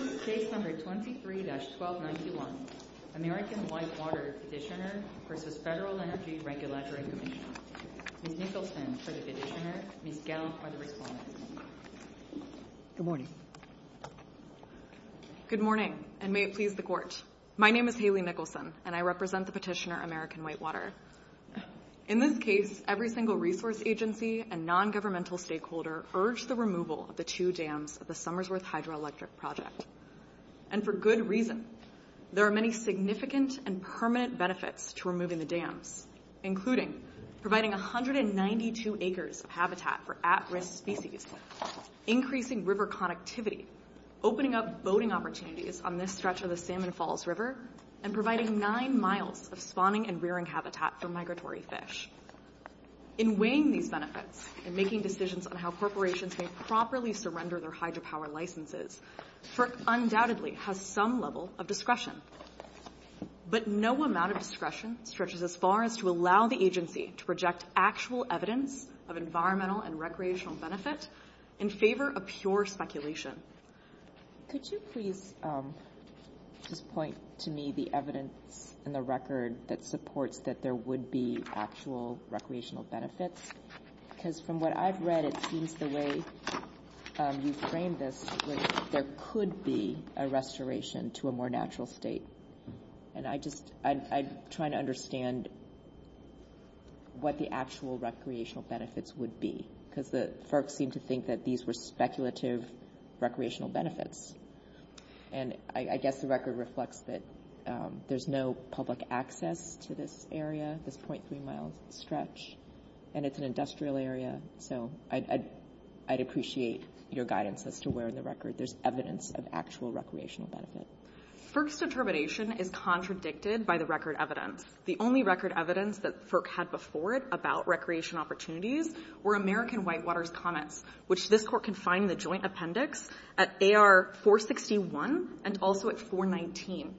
This is case number 23-1291, American Whitewater Petitioner v. Federal Energy Regulatory Commission. Ms. Nicholson for the petitioner, Ms. Gell for the respondent. Good morning. Good morning, and may it please the Court. My name is Haley Nicholson, and I represent the petitioner, American Whitewater. In this case, every single resource agency and nongovernmental stakeholder urged the removal of the two dams of the Summersworth Hydroelectric Project. And for good reason. There are many significant and permanent benefits to removing the dams, including providing 192 acres of habitat for at-risk species, increasing river connectivity, opening up boating opportunities on this stretch of the Salmon Falls River, and providing nine miles of spawning and rearing habitat for migratory fish. In weighing these benefits and making decisions on how corporations may properly surrender their hydropower licenses, FERC undoubtedly has some level of discretion. But no amount of discretion stretches as far as to allow the agency to project actual evidence of environmental and recreational benefit in favor of pure speculation. Could you please just point to me the evidence and the record that supports that there would be actual recreational benefits? Because from what I've read, it seems the way you framed this was there could be a restoration to a more natural state. And I just am trying to understand what the actual recreational benefits would be, because the FERC seemed to think that these were speculative recreational benefits. And I guess the record reflects that there's no public access to this area, this 0.3-mile stretch, and it's an industrial area. So I'd appreciate your guidance as to where in the record there's evidence of actual recreational benefit. FERC's determination is contradicted by the record evidence. The only record evidence that FERC had before it about recreation opportunities were American Whitewaters Comets, which this court can find in the joint appendix at AR 461 and also at 419.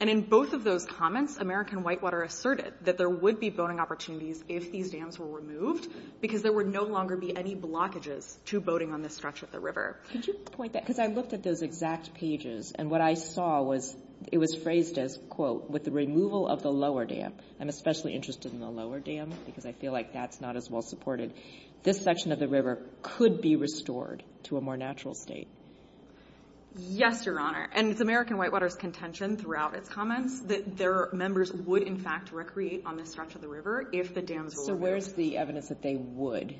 And in both of those comets, American Whitewater asserted that there would be boating opportunities if these dams were removed because there would no longer be any blockages to boating on this stretch of the river. Could you point that? Because I looked at those exact pages, and what I saw was it was phrased as, quote, with the removal of the lower dam. I'm especially interested in the lower dam because I feel like that's not as well supported. This section of the river could be restored to a more natural state. Yes, Your Honor. And it's American Whitewaters' contention throughout its comments that their members would, in fact, recreate on this stretch of the river if the dams were removed. So where's the evidence that they would?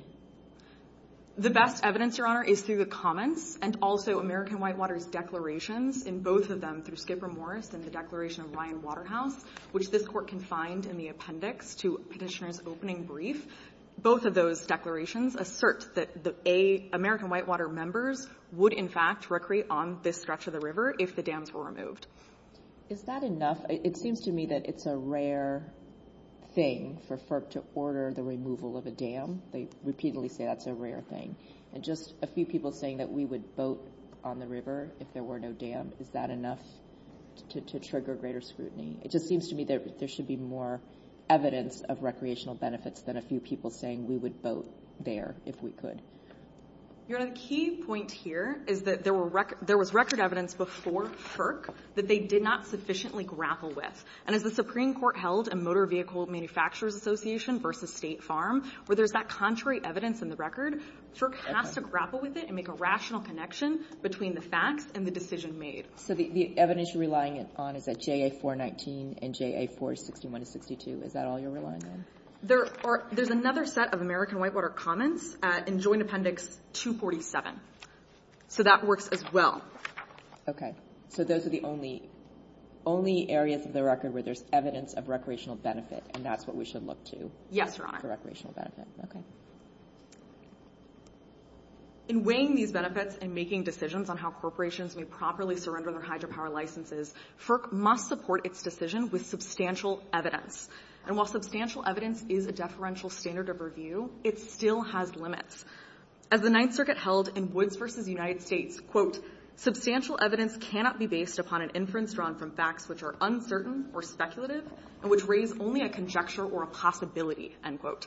The best evidence, Your Honor, is through the comets and also American Whitewaters' declarations in both of them, through Skipper Morris and the declaration of Ryan Waterhouse, which this court can find in the appendix to Petitioner's opening brief. Both of those declarations assert that American Whitewater members would, in fact, recreate on this stretch of the river if the dams were removed. Is that enough? It seems to me that it's a rare thing for FERC to order the removal of a dam. They repeatedly say that's a rare thing. And just a few people saying that we would boat on the river if there were no dam, is that enough to trigger greater scrutiny? It just seems to me that there should be more evidence of recreational benefits than a few people saying we would boat there if we could. Your Honor, the key point here is that there was record evidence before FERC that they did not sufficiently grapple with. And as the Supreme Court held in Motor Vehicle Manufacturers Association v. State Farm, where there's that contrary evidence in the record, FERC has to grapple with it and make a rational connection between the facts and the decision made. So the evidence you're relying on is that JA-419 and JA-461-62. Is that all you're relying on? There's another set of American Whitewater comments in Joint Appendix 247. So that works as well. So those are the only areas of the record where there's evidence of recreational benefit, and that's what we should look to? Yes, Your Honor. For recreational benefit. Okay. In weighing these benefits and making decisions on how corporations may properly surrender their hydropower licenses, FERC must support its decision with substantial evidence. And while substantial evidence is a deferential standard of review, it still has limits. As the Ninth Circuit held in Woods v. United States, quote, substantial evidence cannot be based upon an inference drawn from facts which are uncertain or speculative and which raise only a conjecture or a possibility, end quote.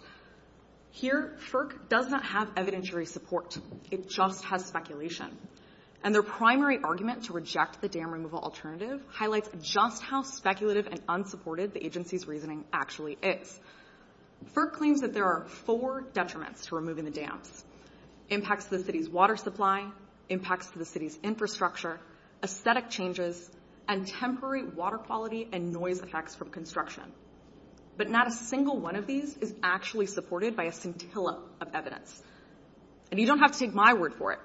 Here, FERC does not have evidentiary support. It just has speculation. And their primary argument to reject the dam removal alternative highlights just how speculative and unsupported the agency's reasoning actually is. FERC claims that there are four detriments to removing the dams, impacts to the city's water supply, impacts to the city's infrastructure, aesthetic changes, and temporary water quality and noise effects from construction. But not a single one of these is actually supported by a scintilla of evidence. And you don't have to take my word for it.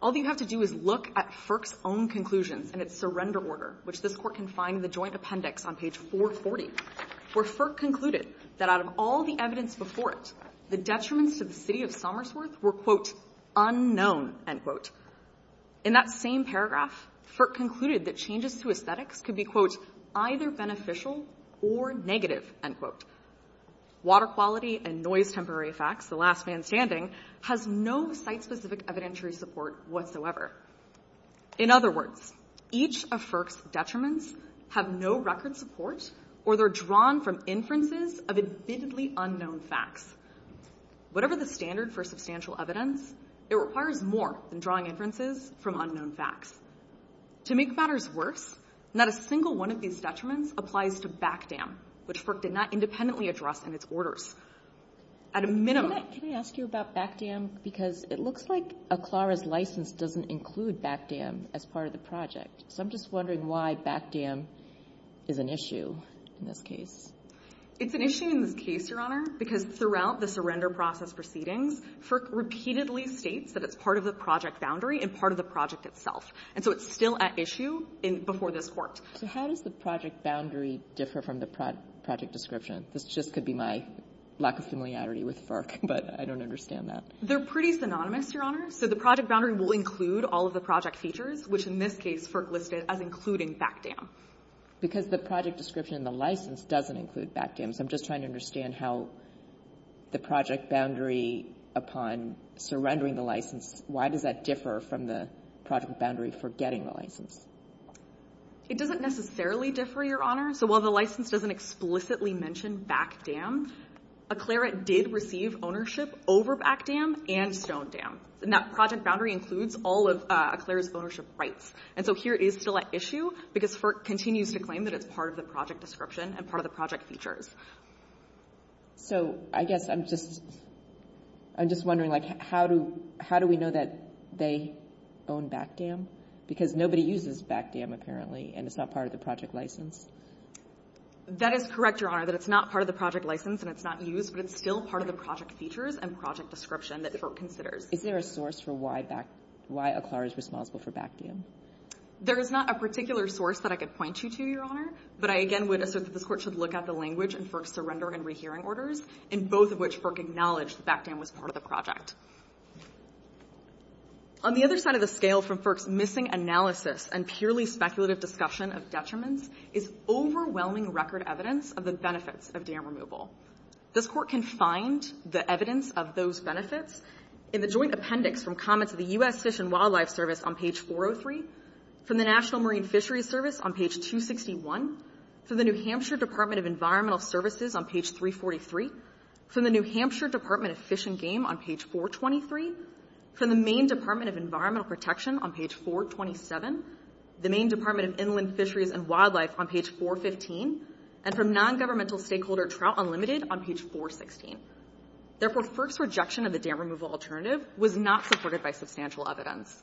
All you have to do is look at FERC's own conclusions and its surrender order, which this Court can find in the joint appendix on page 440, where FERC concluded that out of all the evidence before it, the detriments to the city of Somersworth were, quote, unknown, end quote. In that same paragraph, FERC concluded that changes to aesthetics could be, quote, either beneficial or negative, end quote. Water quality and noise temporary effects, the last man standing, has no site-specific evidentiary support whatsoever. In other words, each of FERC's detriments have no record support, or they're drawn from inferences of admittedly unknown facts. Whatever the standard for substantial evidence, it requires more than drawing inferences from unknown facts. To make matters worse, not a single one of these detriments applies to back dam, which FERC did not independently address in its orders. At a minimum --" Can I ask you about back dam? Because it looks like Aclara's license doesn't include back dam as part of the project. So I'm just wondering why back dam is an issue in this case. It's an issue in this case, Your Honor, because throughout the surrender process proceedings, FERC repeatedly states that it's part of the project boundary and part of the project itself. And so it's still at issue before this Court. So how does the project boundary differ from the project description? This just could be my lack of familiarity with FERC, but I don't understand that. They're pretty synonymous, Your Honor. So the project boundary will include all of the project features, which in this case FERC listed as including back dam. Because the project description in the license doesn't include back dam. So I'm just trying to understand how the project boundary upon surrendering the license, why does that differ from the project boundary for getting the license? It doesn't necessarily differ, Your Honor. So while the license doesn't explicitly mention back dam, Eklera did receive ownership over back dam and stone dam. And that project boundary includes all of Eklera's ownership rights. And so here it is still at issue because FERC continues to claim that it's part of the project description and part of the project features. So I guess I'm just wondering, like, how do we know that they own back dam? Because nobody uses back dam, apparently, and it's not part of the project license. That is correct, Your Honor, that it's not part of the project license and it's not used, but it's still part of the project features and project description that FERC considers. Is there a source for why Eklera is responsible for back dam? There is not a particular source that I could point you to, Your Honor, but I again would assert that this Court should look at the language in FERC's surrender and rehearing orders, in both of which FERC acknowledged that back dam was part of the project. On the other side of the scale from FERC's missing analysis and purely speculative discussion of detriments is overwhelming record evidence of the benefits of dam removal. This Court can find the evidence of those benefits in the joint appendix from comments of the U.S. Fish and Wildlife Service on page 403, from the National Marine Fisheries Service on page 261, from the New Hampshire Department of Environmental Services on page 343, from the New Hampshire Department of Fish and Game on page 423, from the Maine Department of Environmental Protection on page 427, the Maine Department of Inland Fisheries and Wildlife on page 415, and from non-governmental stakeholder Trout Unlimited on page 416. Therefore, FERC's rejection of the dam removal alternative was not supported by substantial evidence.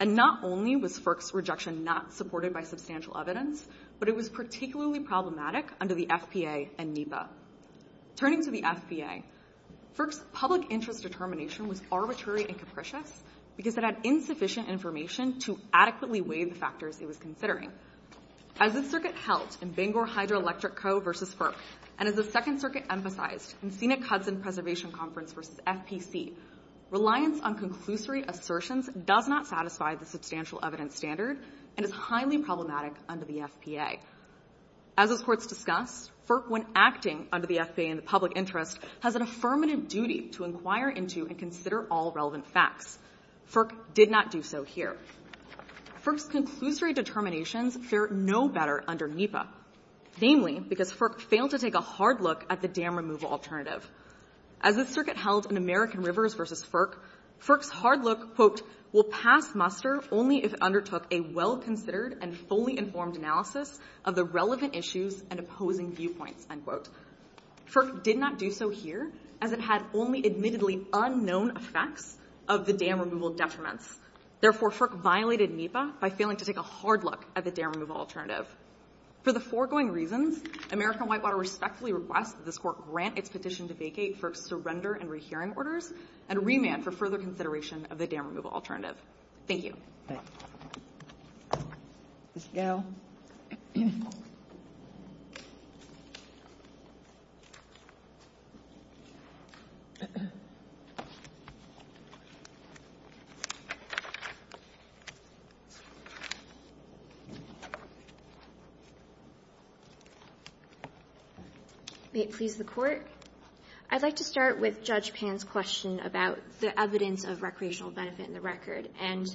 And not only was FERC's rejection not supported by substantial evidence, but it was particularly problematic under the FPA and NEPA. Turning to the FPA, FERC's public interest determination was arbitrary and capricious because it had insufficient information to adequately weigh the factors it was considering. As the Circuit held in Bangor Hydroelectric Co. v. FERC, and as the Second Circuit emphasized in Sena-Cudson Preservation Conference v. FPC, reliance on conclusory assertions does not satisfy the substantial evidence standard and is highly problematic under the FPA. As this Court's discussed, FERC, when acting under the FPA in the public interest, has an affirmative duty to inquire into and consider all relevant facts. FERC did not do so here. FERC's conclusory determinations fare no better under NEPA, namely because FERC failed to take a hard look at the dam removal alternative. As the Circuit held in American Rivers v. FERC, FERC's hard look, quote, will pass a well-considered and fully informed analysis of the relevant issues and opposing viewpoints, end quote. FERC did not do so here as it had only admittedly unknown effects of the dam removal detriments. Therefore, FERC violated NEPA by failing to take a hard look at the dam removal alternative. For the foregoing reasons, American Whitewater respectfully requests that this Court grant its petition to vacate FERC's surrender and rehearing orders and remand for further consideration of the dam removal alternative. Thank you. Thank you. Ms. Gall. May it please the Court. I'd like to start with Judge Pan's question about the evidence of recreational benefit in the record. And,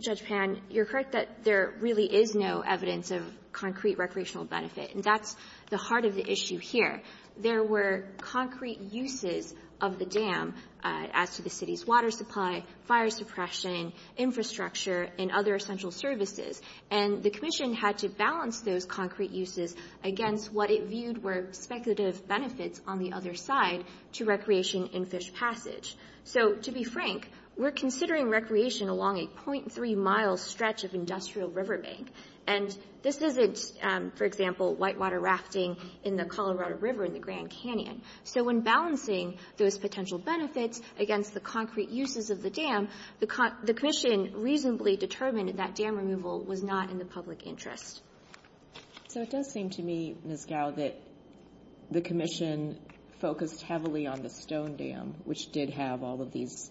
Judge Pan, you're correct that there really is no evidence of concrete recreational benefit, and that's the heart of the issue here. There were concrete uses of the dam as to the City's water supply, fire suppression, infrastructure, and other essential services. And the Commission had to balance those concrete uses against what it viewed were speculative benefits on the other side to recreation in Fish Passage. So, to be frank, we're considering recreation along a .3-mile stretch of industrial river bank. And this isn't, for example, whitewater rafting in the Colorado River in the Grand Canyon. So when balancing those potential benefits against the concrete uses of the dam, the Commission reasonably determined that that dam removal was not in the public interest. So it does seem to me, Ms. Gall, that the Commission focused heavily on the Stone Dam, which did have all of these,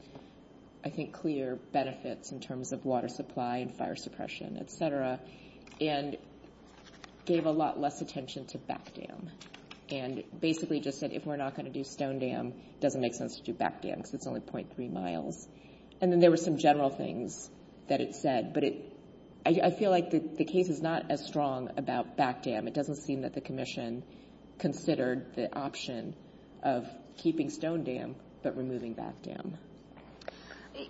I think, clear benefits in terms of water supply and fire suppression, et cetera, and gave a lot less attention to Back Dam, and basically just said if we're not going to do Stone Dam, it doesn't make sense to do Back Dam because it's only .3 miles. And then there were some general things that it said, but I feel like the case is not as strong about Back Dam. It doesn't seem that the Commission considered the option of keeping Stone Dam but removing Back Dam.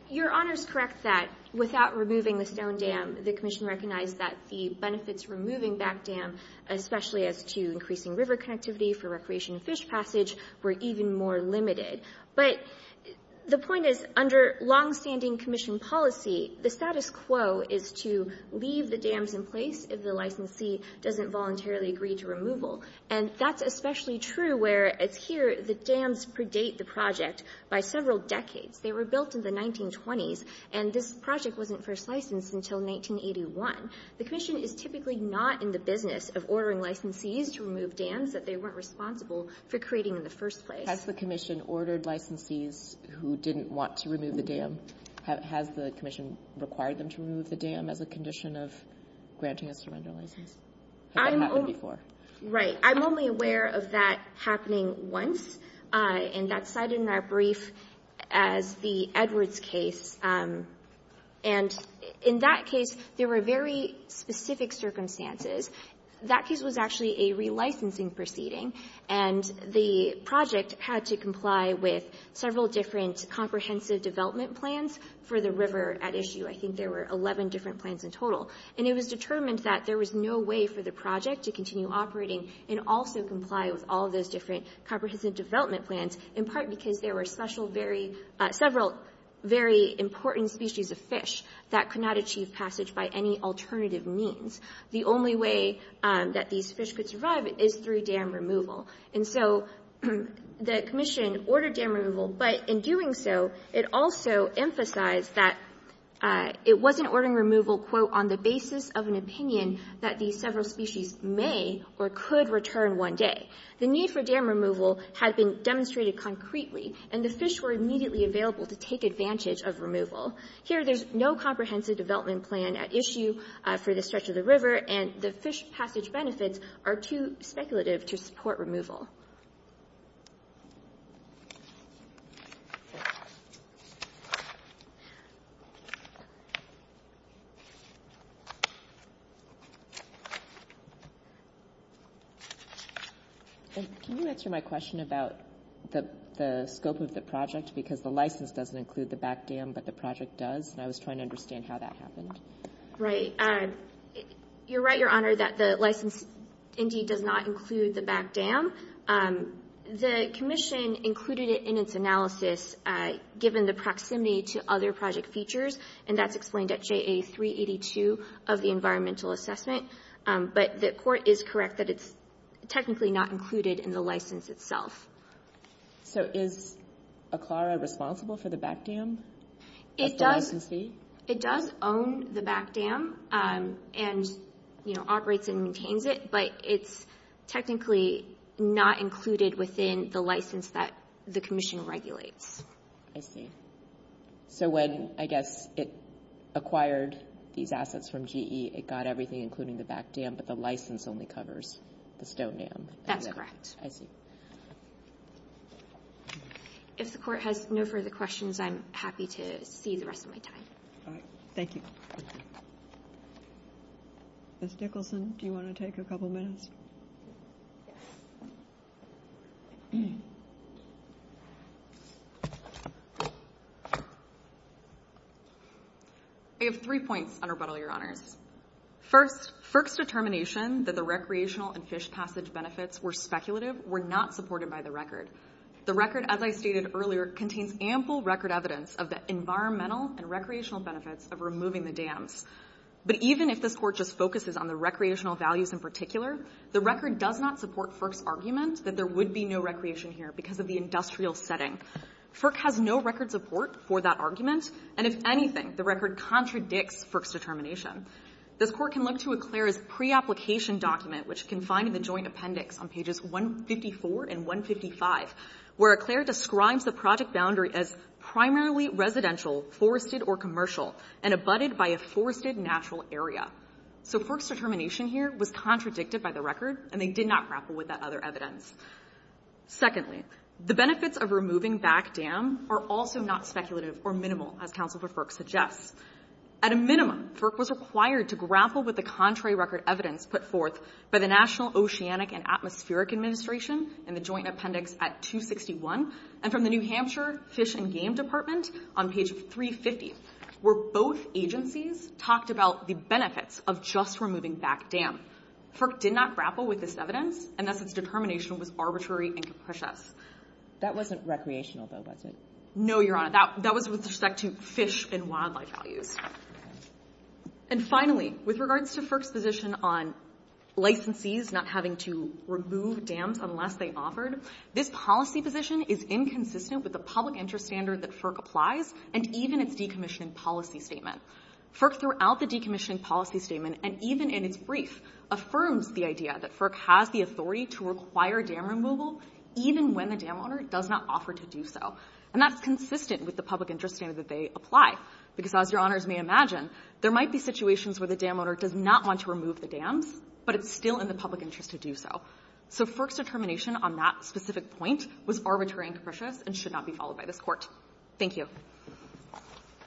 Your Honor is correct that without removing the Stone Dam, the Commission recognized that the benefits removing Back Dam, especially as to increasing river connectivity for recreation in Fish Passage, were even more limited. But the point is, under longstanding Commission policy, the status quo is to leave the dams in place if the licensee doesn't voluntarily agree to removal. And that's especially true where it's here the dams predate the project by several decades. They were built in the 1920s, and this project wasn't first licensed until 1981. The Commission is typically not in the business of ordering licensees to remove dams that they weren't responsible for creating in the first place. Has the Commission ordered licensees who didn't want to remove the dam? Has the Commission required them to remove the dam as a condition of granting a surrender license? Has that happened before? Right. I'm only aware of that happening once, and that's cited in our brief as the Edwards case. And in that case, there were very specific circumstances. That case was actually a relicensing proceeding, and the project had to comply with several different comprehensive development plans for the river at issue. I think there were 11 different plans in total. And it was determined that there was no way for the project to continue operating and also comply with all those different comprehensive development plans, in part because there were several very important species of fish that could not achieve passage by any alternative means. The only way that these fish could survive is through dam removal. And so the Commission ordered dam removal, but in doing so, it also emphasized that it wasn't ordering removal, quote, on the basis of an opinion that these several species may or could return one day. The need for dam removal had been demonstrated concretely, and the fish were immediately available to take advantage of removal. Here, there's no comprehensive development plan at issue for the stretch of the dam removal. And can you answer my question about the scope of the project? Because the license doesn't include the back dam, but the project does, and I was trying to understand how that happened. Right. You're right, Your Honor, that the license indeed does not include the back dam. The Commission included it in its analysis, given the proximity to other project features, and that's explained at JA382 of the environmental assessment. But the court is correct that it's technically not included in the license itself. So is ACLARA responsible for the back dam of the licensee? It does own the back dam and, you know, operates and maintains it, but it's technically not included within the license that the Commission regulates. I see. So when, I guess, it acquired these assets from GE, it got everything, including the back dam, but the license only covers the stone dam. That's correct. I see. If the Court has no further questions, I'm happy to see the rest of my time. All right. Thank you. Ms. Nicholson, do you want to take a couple minutes? Yes. I have three points, Your Honor. First, FERC's determination that the recreational and fish passage benefits were speculative were not supported by the record. The record, as I stated earlier, contains ample record evidence of the environmental and recreational benefits of removing the dams. But even if this Court just focuses on the recreational values in particular, the record does not support FERC's argument that there would be no recreation here because of the industrial setting. FERC has no record support for that argument, and if anything, the record contradicts FERC's determination. This Court can look to ACLARA's preapplication document, which you can find in the Joint Appendix on pages 154 and 155, where ACLARA describes the project boundary as primarily residential, forested, or commercial, and abutted by a forested natural area. So FERC's determination here was contradicted by the record, and they did not grapple with that other evidence. Secondly, the benefits of removing back dam are also not speculative or minimal, as Counsel for FERC suggests. At a minimum, FERC was required to grapple with the contrary record evidence put forth by the National Oceanic and Atmospheric Administration in the Joint Appendix at 261 and from the New Hampshire Fish and Game Department on page 350, where both agencies talked about the benefits of just removing back dam. FERC did not grapple with this evidence, and thus its determination was arbitrary and capricious. That wasn't recreational, though, was it? No, Your Honor. That was with respect to fish and wildlife values. And finally, with regards to FERC's position on licensees not having to remove dams unless they offered, this policy position is inconsistent with the public interest standard that FERC applies and even its decommissioning policy statement. FERC, throughout the decommissioning policy statement and even in its brief, affirms the idea that FERC has the authority to require dam removal even when the dam owner does not offer to do so, and that's consistent with the public interest standard that they apply, because as Your Honors may imagine, there might be situations where the dam owner does not want to remove the dams, but it's still in the public interest to do so. So FERC's determination on that specific point was arbitrary and capricious and should not be followed by this Court. Thank you.